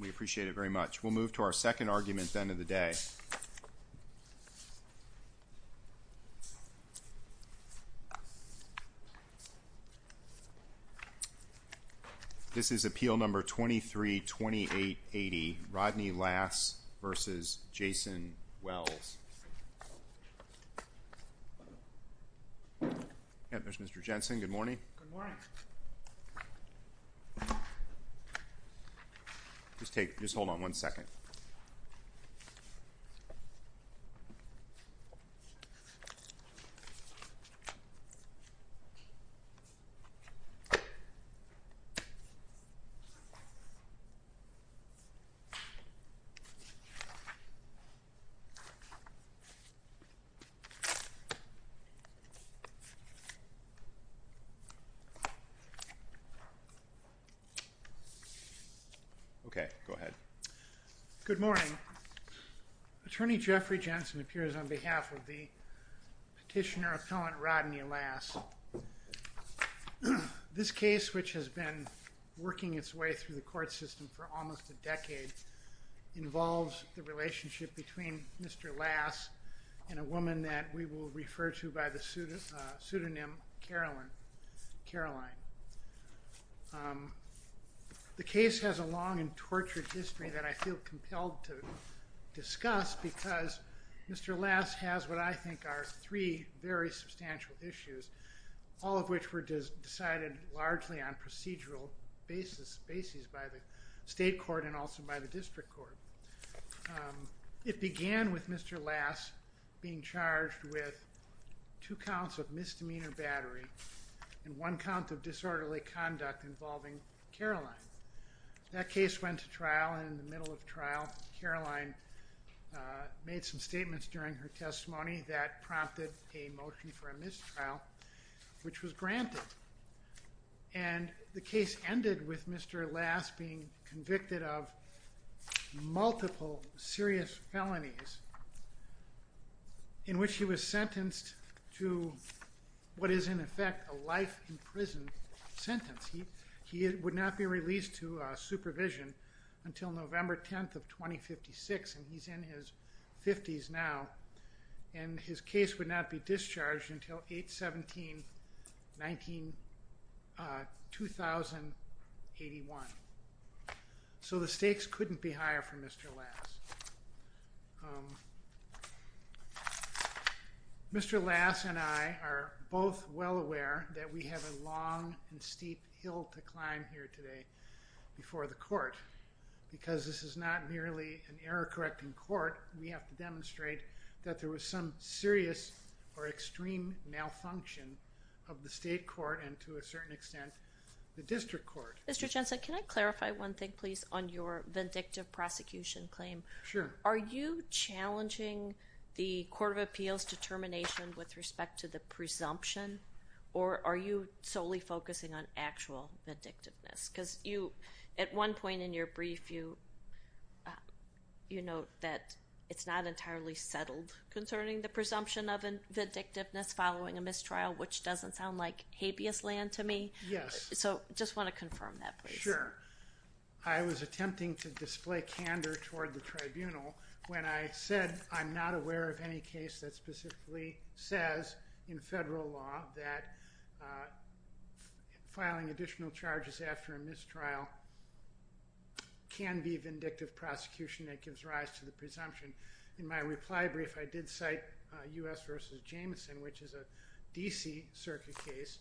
We appreciate it very much. We'll move to our second argument at the end of the day. This is Appeal No. 23-2880, Rodney Lass v. Jason Wells. Mr. Jensen, good morning. Just hold on one second. Okay, go ahead. Good morning. Attorney Jeffrey Jensen appears on behalf of the petitioner-appellant Rodney Lass. This case, which has been working its way through the court system for almost a decade, involves the relationship between Mr. Lass and a woman that we will refer to by the pseudonym Caroline. The case has a long and tortured history that I feel compelled to discuss because Mr. Lass has what I think are three very substantial issues, all of which were decided largely on procedural basis by the state court and also by the district court. It began with Mr. Lass being charged with two counts of misdemeanor battery and one count of disorderly conduct involving Caroline. That case went to trial, and in the middle of trial, Caroline made some statements during her testimony that prompted a motion for a mistrial, which was granted. And the case ended with Mr. Lass being convicted of multiple serious felonies in which he was sentenced to what is in effect a life in prison sentence. He would not be released to supervision until November 10th of 2056, and he's in his 50s now, and his case would not be discharged until 8-17-19-2081. So the stakes couldn't be higher for Mr. Lass. Mr. Lass and I are both well aware that we have a long and steep hill to climb here today before the court because this is not merely an error-correcting court. We have to demonstrate that there was some serious or extreme malfunction of the state court and, to a certain extent, the district court. Mr. Jensen, can I clarify one thing, please, on your vindictive prosecution claim? Sure. Are you challenging the Court of Appeals determination with respect to the presumption, or are you solely focusing on actual vindictiveness? Because at one point in your brief, you note that it's not entirely settled concerning the presumption of vindictiveness following a mistrial, which doesn't sound like habeas land to me. Yes. So I just want to confirm that, please. Sure. I was attempting to display candor toward the tribunal when I said I'm not aware of any case that specifically says in federal law that filing additional charges after a mistrial can be vindictive prosecution that gives rise to the presumption. In my reply brief, I did cite U.S. v. Jameson, which is a D.C. circuit case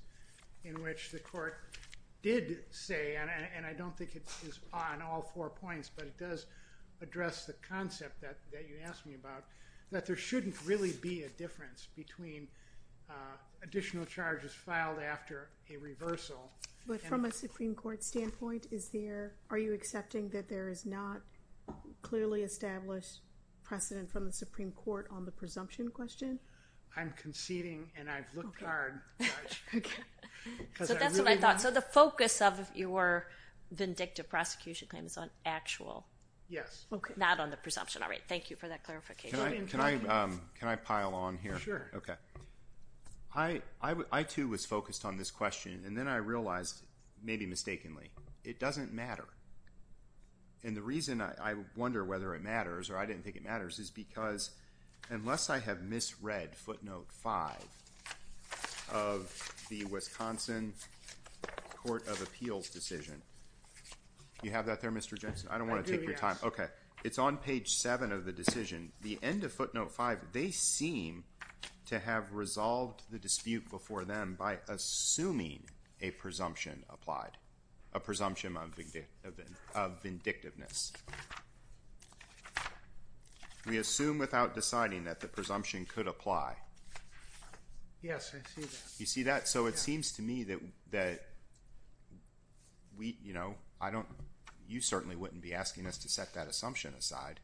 in which the court did say, and I don't think it is on all four points, but it does address the concept that you asked me about, that there shouldn't really be a difference between additional charges filed after a reversal. But from a Supreme Court standpoint, are you accepting that there is not clearly established precedent from the Supreme Court on the presumption question? I'm conceding, and I've looked hard. So that's what I thought. So the focus of your vindictive prosecution claim is on actual. Yes. Not on the presumption. All right. Thank you for that clarification. Can I pile on here? Sure. Okay. I, too, was focused on this question, and then I realized, maybe mistakenly, it doesn't matter. And the reason I wonder whether it matters, or I didn't think it matters, is because unless I have misread footnote 5 of the Wisconsin Court of Appeals decision. Do you have that there, Mr. Jameson? I don't want to take your time. Okay. It's on page 7 of the decision. The end of footnote 5, they seem to have resolved the dispute before them by assuming a presumption applied, a presumption of vindictiveness. We assume without deciding that the presumption could apply. Yes, I see that. You see that? So it seems to me that we, you know, I don't, you certainly wouldn't be asking us to set that assumption aside.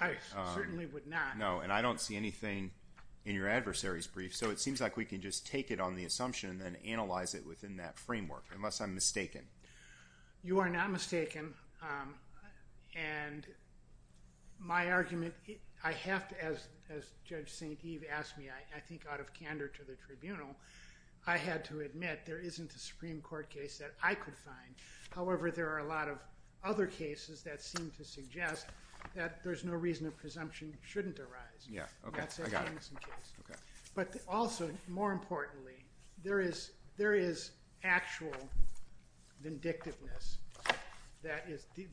I certainly would not. No, and I don't see anything in your adversary's brief. So it seems like we can just take it on the assumption and then analyze it within that framework, unless I'm mistaken. You are not mistaken. And my argument, I have to, as Judge St. Eve asked me, I think out of candor to the tribunal, I had to admit there isn't a Supreme Court case that I could find. However, there are a lot of other cases that seem to suggest that there's no reason a presumption shouldn't arise. Yeah, okay. I got it. Okay. But also, more importantly, there is actual vindictiveness that is the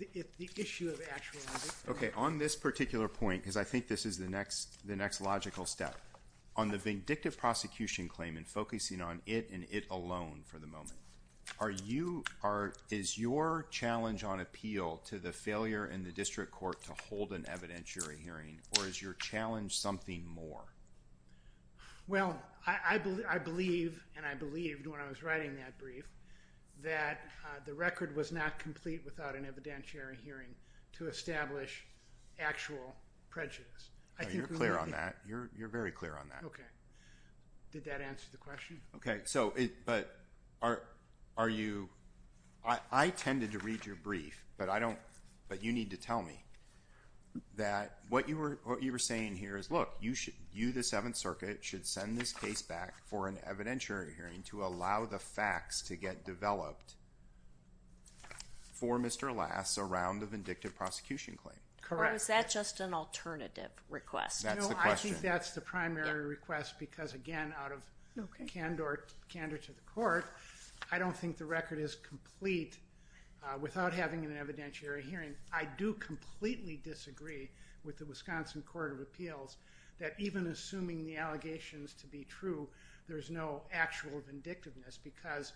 issue of actual vindictiveness. Okay, on this particular point, because I think this is the next logical step, on the vindictive prosecution claim and focusing on it and it alone for the moment, is your challenge on appeal to the failure in the district court to hold an evidentiary hearing, or is your challenge something more? Well, I believe, and I believed when I was writing that brief, that the record was not complete without an evidentiary hearing to establish actual prejudice. You're clear on that. You're very clear on that. Okay. Did that answer the question? Okay. But are you – I tended to read your brief, but you need to tell me that what you were saying here is, look, you, the Seventh Circuit, should send this case back for an evidentiary hearing to allow the facts to get developed for Mr. Lass around the vindictive prosecution claim. Correct. Or is that just an alternative request? That's the question. It's an alternative request because, again, out of candor to the court, I don't think the record is complete without having an evidentiary hearing. I do completely disagree with the Wisconsin Court of Appeals that even assuming the allegations to be true, there's no actual vindictiveness because,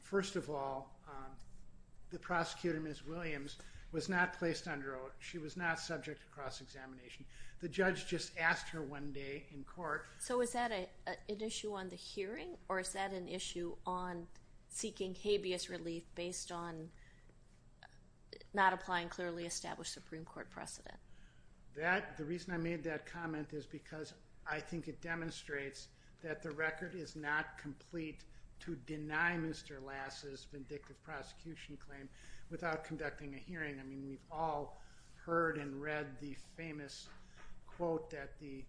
first of all, the prosecutor, Ms. Williams, was not placed under oath. She was not subject to cross-examination. The judge just asked her one day in court. So is that an issue on the hearing, or is that an issue on seeking habeas relief based on not applying clearly established Supreme Court precedent? The reason I made that comment is because I think it demonstrates that the record is not complete to deny Mr. Lass's vindictive prosecution claim without conducting a hearing. I mean, we've all heard and read the famous quote that the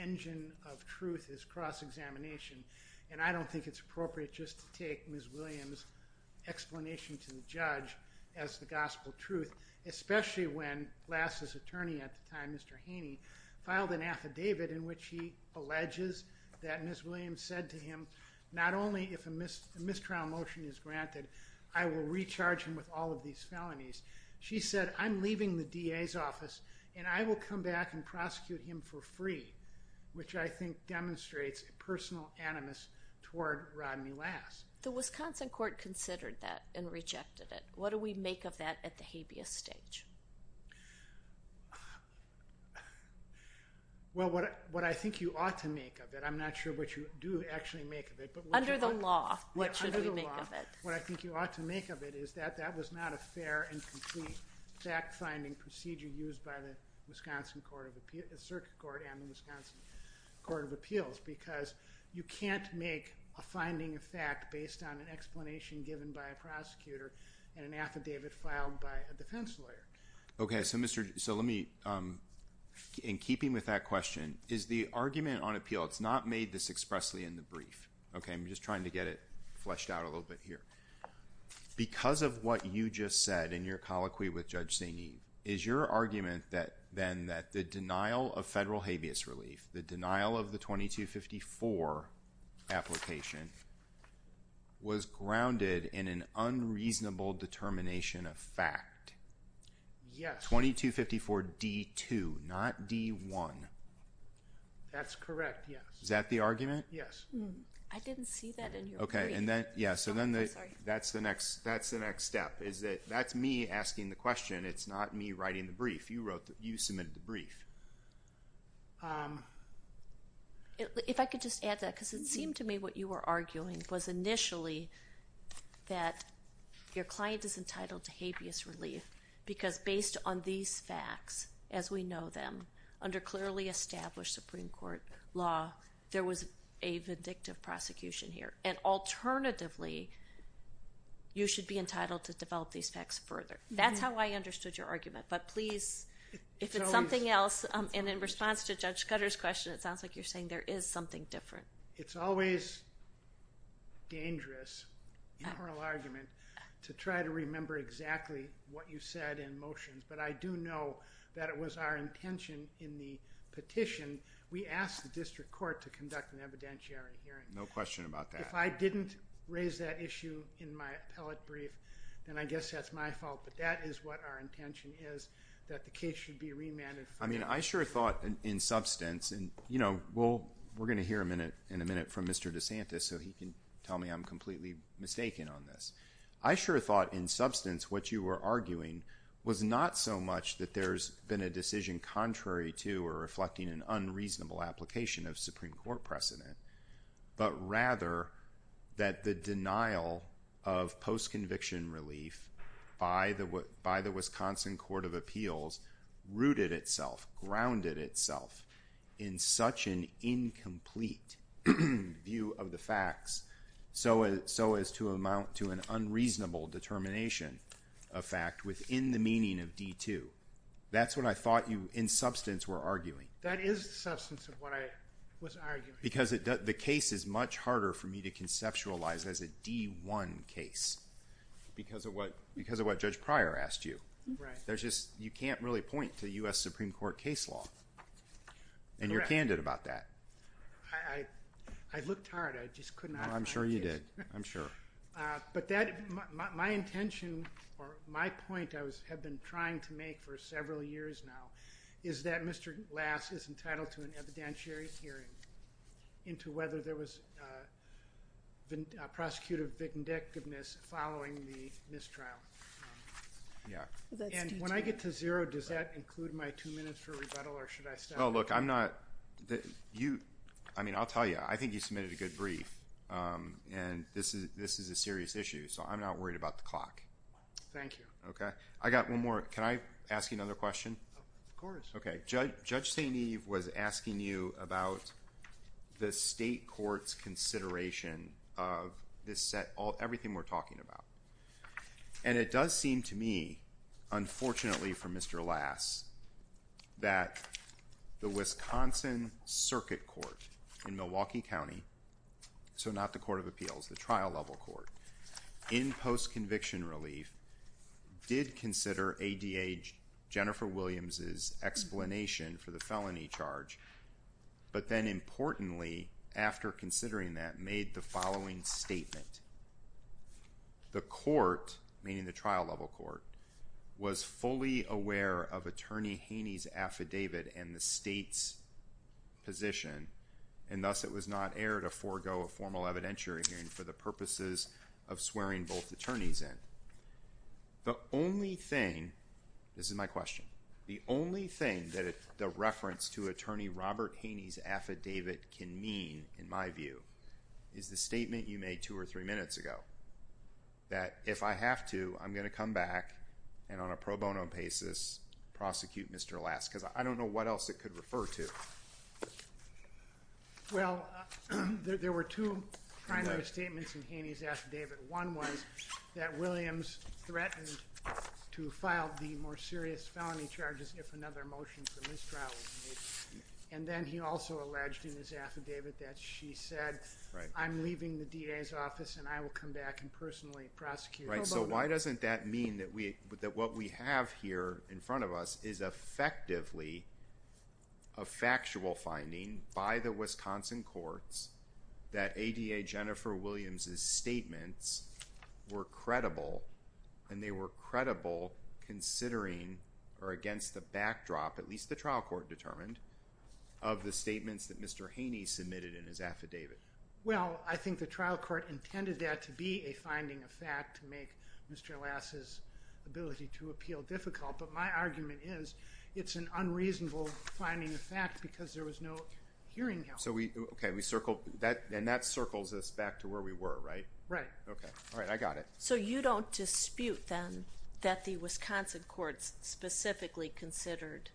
engine of truth is cross-examination, and I don't think it's appropriate just to take Ms. Williams' explanation to the judge as the gospel truth, especially when Lass's attorney at the time, Mr. Haney, filed an affidavit in which he alleges that Ms. Williams said to him, not only if a mistrial motion is granted, I will recharge him with all of these felonies. She said, I'm leaving the DA's office and I will come back and prosecute him for free, which I think demonstrates a personal animus toward Rodney Lass. The Wisconsin court considered that and rejected it. What do we make of that at the habeas stage? Well, what I think you ought to make of it, I'm not sure what you do actually make of it. Under the law, what should we make of it? What I think you ought to make of it is that that was not a fair and complete fact-finding procedure used by the circuit court and the Wisconsin court of appeals because you can't make a finding of fact based on an explanation given by a prosecutor and an affidavit filed by a defense lawyer. Okay, so let me, in keeping with that question, is the argument on appeal, it's not made this expressly in the brief, okay? I'm just trying to get it fleshed out a little bit here. Because of what you just said in your colloquy with Judge Sainee, is your argument then that the denial of federal habeas relief, the denial of the 2254 application, was grounded in an unreasonable determination of fact? Yes. 2254 D-2, not D-1. That's correct, yes. Is that the argument? Yes. I didn't see that in your brief. Okay, and then, yeah, so then that's the next step, is that that's me asking the question, it's not me writing the brief. You wrote the, you submitted the brief. If I could just add that, because it seemed to me what you were arguing was initially that your client is entitled to habeas relief because based on these facts, as we know them, under clearly established Supreme Court law, there was a vindictive prosecution here. And alternatively, you should be entitled to develop these facts further. That's how I understood your argument. But please, if it's something else, and in response to Judge Scudder's question, it sounds like you're saying there is something different. It's always dangerous in oral argument to try to remember exactly what you said in motions. But I do know that it was our intention in the petition, we asked the district court to conduct an evidentiary hearing. No question about that. If I didn't raise that issue in my appellate brief, then I guess that's my fault. But that is what our intention is, that the case should be remanded further. I mean, I sure thought in substance, and we're going to hear in a minute from Mr. DeSantis, so he can tell me I'm completely mistaken on this. I sure thought in substance what you were arguing was not so much that there's been a decision contrary to or reflecting an unreasonable application of Supreme Court precedent, but rather that the denial of post-conviction relief by the Wisconsin Court of Appeals rooted itself, grounded itself in such an incomplete view of the facts, so as to amount to an unreasonable determination of fact within the meaning of D-2. That's what I thought you, in substance, were arguing. That is the substance of what I was arguing. Because the case is much harder for me to conceptualize as a D-1 case because of what Judge Pryor asked you. Right. You can't really point to U.S. Supreme Court case law, and you're candid about that. I looked hard. I just could not find it. I'm sure you did. I'm sure. But my intention, or my point I have been trying to make for several years now, is that Mr. Lass is entitled to an evidentiary hearing into whether there was prosecutive vindictiveness following the mistrial. Yeah. And when I get to zero, does that include my two minutes for rebuttal, or should I stop? Well, look, I'm not—I mean, I'll tell you. I think you submitted a good brief, and this is a serious issue, so I'm not worried about the clock. Thank you. Okay? I got one more. Can I ask you another question? Of course. Okay. Judge St. Eve was asking you about the state court's consideration of this set—everything we're talking about. And it does seem to me, unfortunately for Mr. Lass, that the Wisconsin Circuit Court in Milwaukee County— Mr. Williams's explanation for the felony charge, but then importantly, after considering that, made the following statement. The court, meaning the trial-level court, was fully aware of Attorney Haney's affidavit and the state's position, and thus it was not air to forego a formal evidentiary hearing for the purposes of swearing both attorneys in. The only thing—this is my question—the only thing that the reference to Attorney Robert Haney's affidavit can mean, in my view, is the statement you made two or three minutes ago, that if I have to, I'm going to come back and on a pro bono basis prosecute Mr. Lass, because I don't know what else it could refer to. Well, there were two primary statements in Haney's affidavit. One was that Williams threatened to file the more serious felony charges if another motion for mistrial was made. And then he also alleged in his affidavit that she said, I'm leaving the DA's office and I will come back and personally prosecute— Right, so why doesn't that mean that what we have here in front of us is effectively a factual finding by the Wisconsin courts that ADA Jennifer Williams's statements were credible, and they were credible considering, or against the backdrop, at least the trial court determined, of the statements that Mr. Haney submitted in his affidavit? Well, I think the trial court intended that to be a finding of fact to make Mr. Lass's ability to appeal difficult, but my argument is it's an unreasonable finding of fact because there was no hearing help. And that circles us back to where we were, right? Right. All right, I got it. So you don't dispute, then, that the Wisconsin courts specifically considered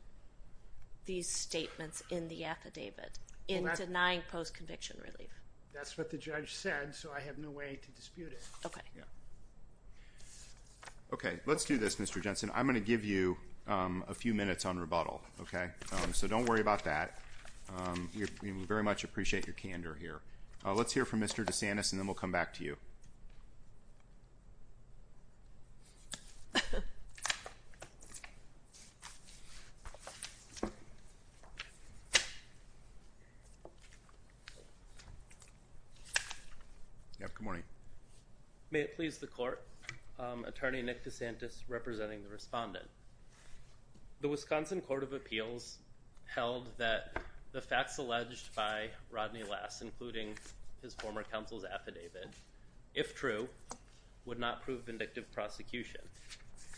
these statements in the affidavit in denying post-conviction relief? That's what the judge said, so I have no way to dispute it. Okay, let's do this, Mr. Jensen. I'm going to give you a few minutes on rebuttal. Okay? So don't worry about that. We very much appreciate your candor here. Let's hear from Mr. DeSantis, and then we'll come back to you. Good morning. May it please the Court? Attorney Nick DeSantis representing the respondent. The Wisconsin Court of Appeals held that the facts alleged by Rodney Lass, including his former counsel's affidavit, if true, would not prove vindictive prosecution.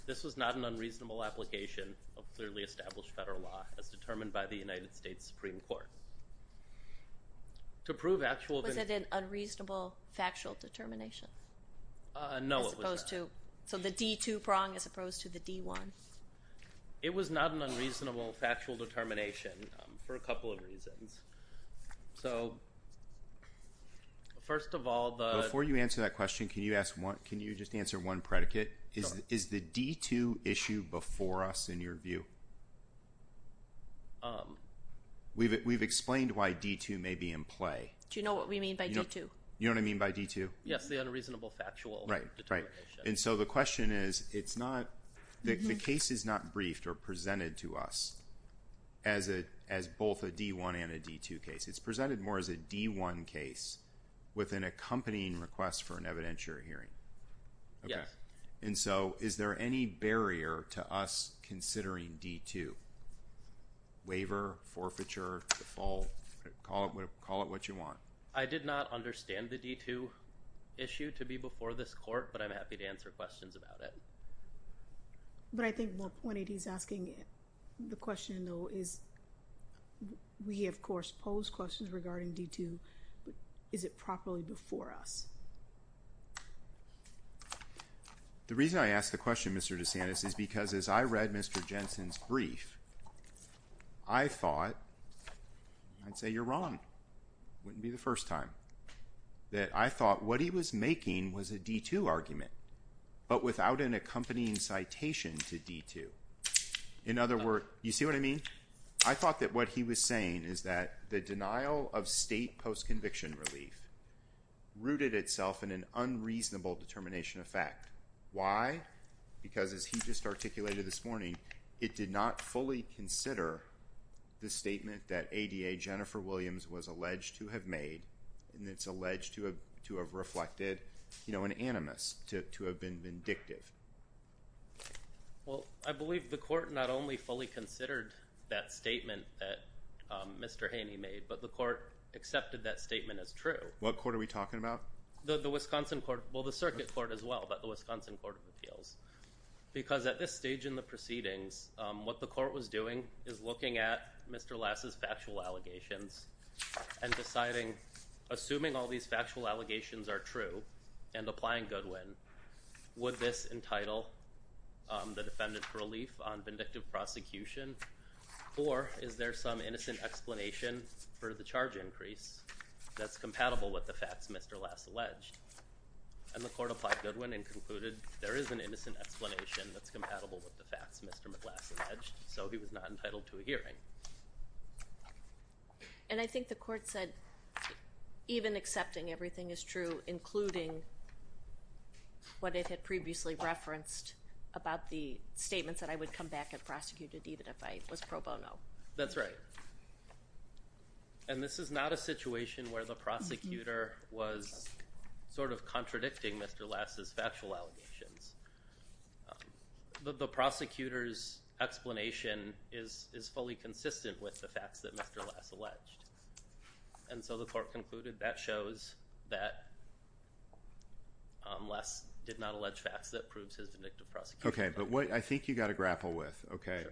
This was not an unreasonable application of clearly established federal law as determined by the United States Supreme Court. Was it an unreasonable factual determination? No, it was not. So the D-2 prong as opposed to the D-1? It was not an unreasonable factual determination for a couple of reasons. Before you answer that question, can you just answer one predicate? Sure. Is the D-2 issue before us in your view? We've explained why D-2 may be in play. Do you know what we mean by D-2? You know what I mean by D-2? Yes, the unreasonable factual determination. Right. And so the question is, the case is not briefed or presented to us as both a D-1 and a D-2 case. It's presented more as a D-1 case with an accompanying request for an evidentiary hearing. Yes. And so is there any barrier to us considering D-2? Waiver, forfeiture, default, call it what you want. I did not understand the D-2 issue to be before this court, but I'm happy to answer questions about it. But I think more pointed he's asking the question, though, is we, of course, pose questions regarding D-2. Is it properly before us? The reason I ask the question, Mr. DeSantis, is because as I read Mr. Jensen's brief, I thought I'd say you're wrong. Wouldn't be the first time that I thought what he was making was a D-2 argument, but without an accompanying citation to D-2. In other words, you see what I mean? I thought that what he was saying is that the denial of state post-conviction relief rooted itself in an unreasonable determination of fact. Why? Because as he just articulated this morning, it did not fully consider the statement that ADA Jennifer Williams was alleged to have made. And it's alleged to have reflected, you know, an animus, to have been vindictive. Well, I believe the court not only fully considered that statement that Mr. Haney made, but the court accepted that statement as true. What court are we talking about? The Wisconsin court. Well, the circuit court as well, but the Wisconsin Court of Appeals. Because at this stage in the proceedings, what the court was doing is looking at Mr. Lass's factual allegations and deciding, assuming all these factual allegations are true and applying Goodwin, would this entitle the defendant for relief on vindictive prosecution? Or is there some innocent explanation for the charge increase that's compatible with the facts Mr. Lass alleged? And the court applied Goodwin and concluded there is an innocent explanation that's compatible with the facts Mr. Lass alleged, so he was not entitled to a hearing. And I think the court said even accepting everything is true, including what it had previously referenced about the statements that I would come back and prosecute it even if I was pro bono. That's right. And this is not a situation where the prosecutor was sort of contradicting Mr. Lass's factual allegations. The prosecutor's explanation is fully consistent with the facts that Mr. Lass alleged. And so the court concluded that shows that Lass did not allege facts that proves his vindictive prosecution. Okay, but what I think you've got to grapple with, okay,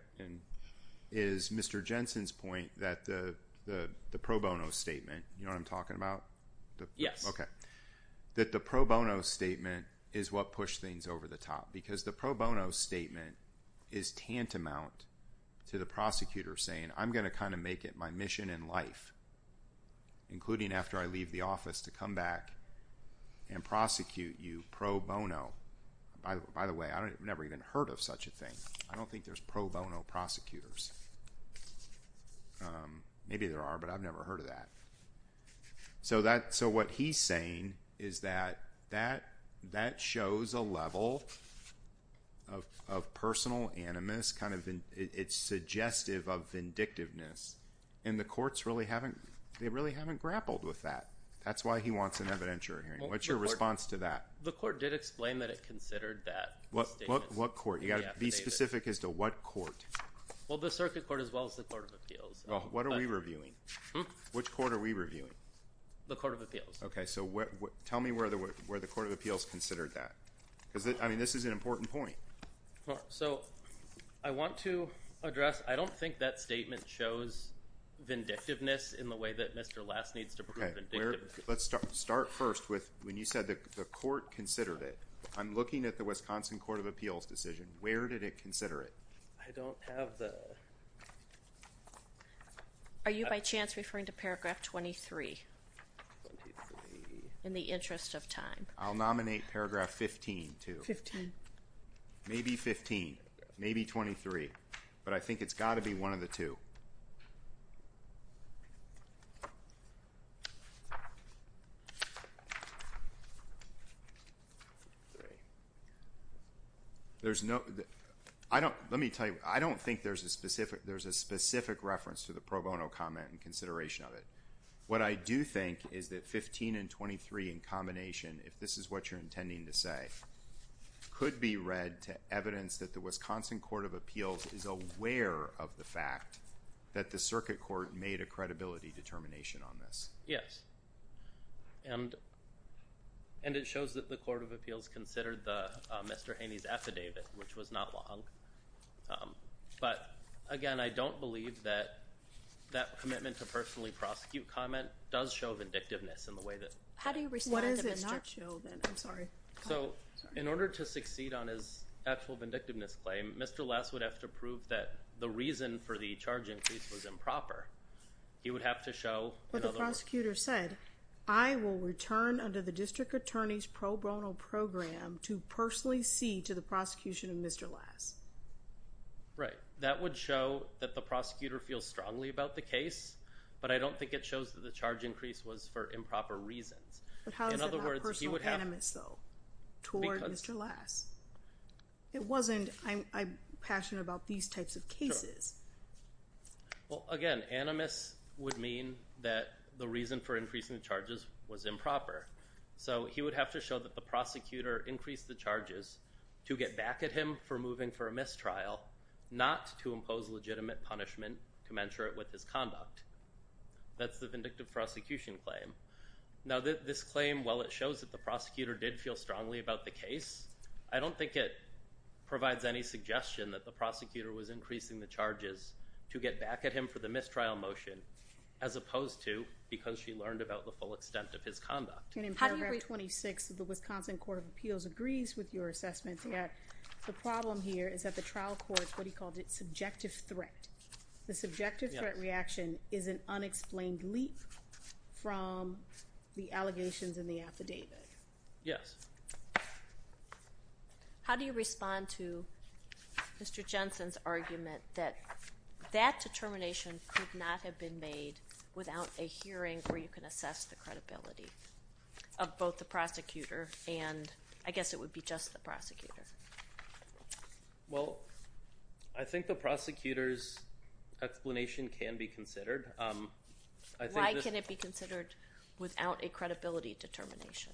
is Mr. Jensen's point that the pro bono statement, you know what I'm talking about? Yes. Okay. That the pro bono statement is what pushed things over the top. Because the pro bono statement is tantamount to the prosecutor saying I'm going to kind of make it my mission in life, including after I leave the office to come back and prosecute you pro bono. By the way, I've never even heard of such a thing. I don't think there's pro bono prosecutors. Maybe there are, but I've never heard of that. So what he's saying is that that shows a level of personal animus. It's suggestive of vindictiveness, and the courts really haven't grappled with that. That's why he wants an evidentiary hearing. What's your response to that? The court did explain that it considered that statement. What court? You've got to be specific as to what court. Well, the circuit court as well as the court of appeals. What are we reviewing? Which court are we reviewing? The court of appeals. Okay, so tell me where the court of appeals considered that. Because, I mean, this is an important point. So I want to address, I don't think that statement shows vindictiveness in the way that Mr. Last needs to prove vindictiveness. Let's start first with when you said the court considered it. I'm looking at the Wisconsin court of appeals decision. Where did it consider it? I don't have the... Are you by chance referring to paragraph 23 in the interest of time? I'll nominate paragraph 15 too. 15. Maybe 15. Maybe 23. But I think it's got to be one of the two. There's no... Let me tell you, I don't think there's a specific reference to the pro bono comment in consideration of it. What I do think is that 15 and 23 in combination, if this is what you're intending to say, could be read to evidence that the Wisconsin court of appeals is aware of the fact that the circuit court made a credibility determination on this. Yes. And it shows that the court of appeals considered Mr. Haney's affidavit, which was not wrong. But, again, I don't believe that that commitment to personally prosecute comment does show vindictiveness in the way that... How do you respond to Mr... What does it not show then? I'm sorry. So in order to succeed on his actual vindictiveness claim, Mr. Last would have to prove that the reason for the charge increase was improper. He would have to show... But the prosecutor said, I will return under the district attorney's pro bono program to personally see to the prosecution of Mr. Last. Right. That would show that the prosecutor feels strongly about the case, but I don't think it shows that the charge increase was for improper reasons. But how is it not personal animus, though, toward Mr. Last? It wasn't, I'm passionate about these types of cases. Well, again, animus would mean that the reason for increasing the charges was improper. So he would have to show that the prosecutor increased the charges to get back at him for moving for a mistrial, not to impose legitimate punishment commensurate with his conduct. That's the vindictive prosecution claim. Now, this claim, while it shows that the prosecutor did feel strongly about the case, I don't think it provides any suggestion that the prosecutor was increasing the charges to get back at him for the mistrial motion, as opposed to because she learned about the full extent of his conduct. And in paragraph 26 of the Wisconsin Court of Appeals agrees with your assessment that the problem here is that the trial court, what he called it, subjective threat. The subjective threat reaction is an unexplained leap from the allegations in the affidavit. Yes. How do you respond to Mr. Jensen's argument that that determination could not have been made without a hearing where you can assess the credibility of both the prosecutor and I guess it would be just the prosecutor? Well, I think the prosecutor's explanation can be considered. Why can it be considered without a credibility determination?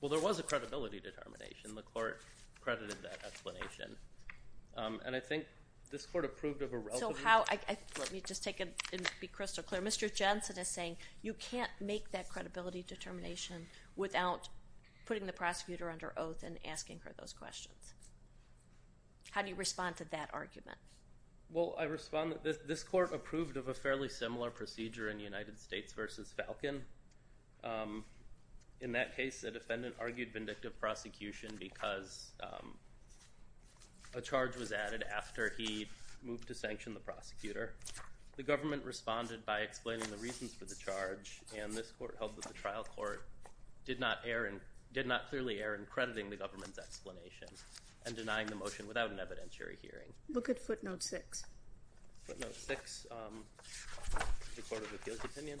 Well, there was a credibility determination. The court credited that explanation. And I think this court approved of a relatively – So how – let me just take it and be crystal clear. Mr. Jensen is saying you can't make that credibility determination without putting the prosecutor under oath and asking her those questions. How do you respond to that argument? Well, I respond – this court approved of a fairly similar procedure in United States v. Falcon. In that case, a defendant argued vindictive prosecution because a charge was added after he moved to sanction the prosecutor. The government responded by explaining the reasons for the charge, and this court held that the trial court did not clearly err in crediting the government's explanation and denying the motion without an evidentiary hearing. Look at footnote 6. Footnote 6, the Court of Appeals opinion.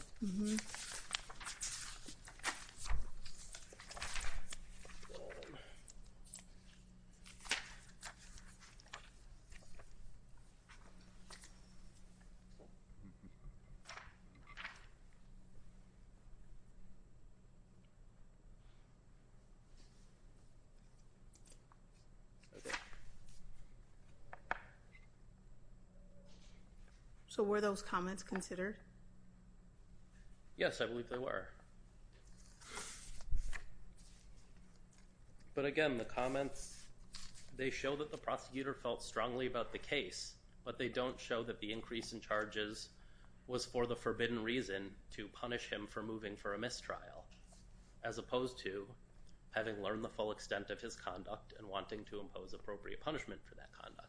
So were those comments considered? Yes, I believe they were. But again, the comments – they show that the prosecutor felt strongly about the case, but they don't show that the increase in charges was for the forbidden reason to punish him for moving for a mistrial, as opposed to having learned the full extent of his conduct and wanting to impose appropriate punishment for that conduct.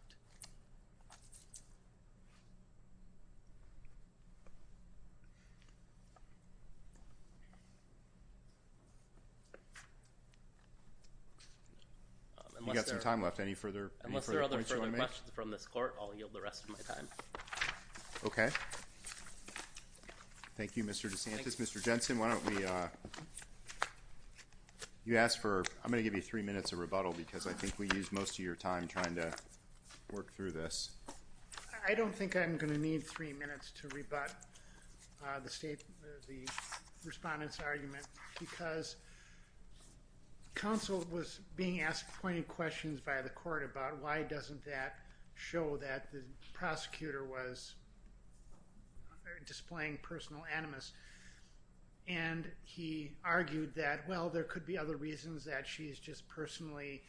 You've got some time left. Any further points you want to make? Unless there are other questions from this court, I'll yield the rest of my time. Okay. Thank you, Mr. DeSantis. Mr. Jensen, why don't we – you asked for – I'm going to give you three minutes of rebuttal because I think we used most of your time trying to work through this. I don't think I'm going to need three minutes to rebut the State – the Respondent's argument because counsel was being asked pointed questions by the court about why doesn't that show that the prosecutor was displaying personal animus, and he argued that, well, there could be other reasons, that she's just personally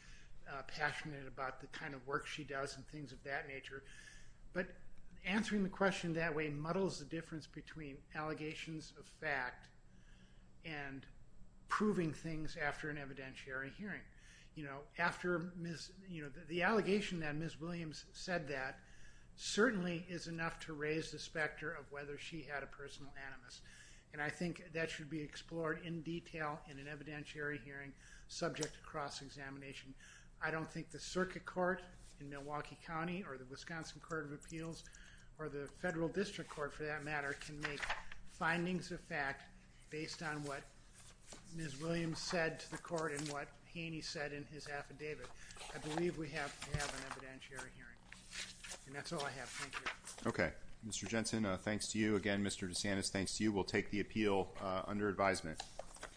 passionate about the kind of work she does and things of that nature. But answering the question that way muddles the difference between allegations of fact and proving things after an evidentiary hearing. After Ms. – the allegation that Ms. Williams said that certainly is enough to raise the specter of whether she had a personal animus, and I think that should be explored in detail in an evidentiary hearing subject to cross-examination. I don't think the Circuit Court in Milwaukee County or the Wisconsin Court of Appeals or the Federal District Court, for that matter, can make findings of fact based on what Ms. Williams said to the court and what he and he said in his affidavit. I believe we have an evidentiary hearing, and that's all I have. Thank you. Okay. Mr. Jensen, thanks to you. Again, Mr. DeSantis, thanks to you. We'll take the appeal under advisement.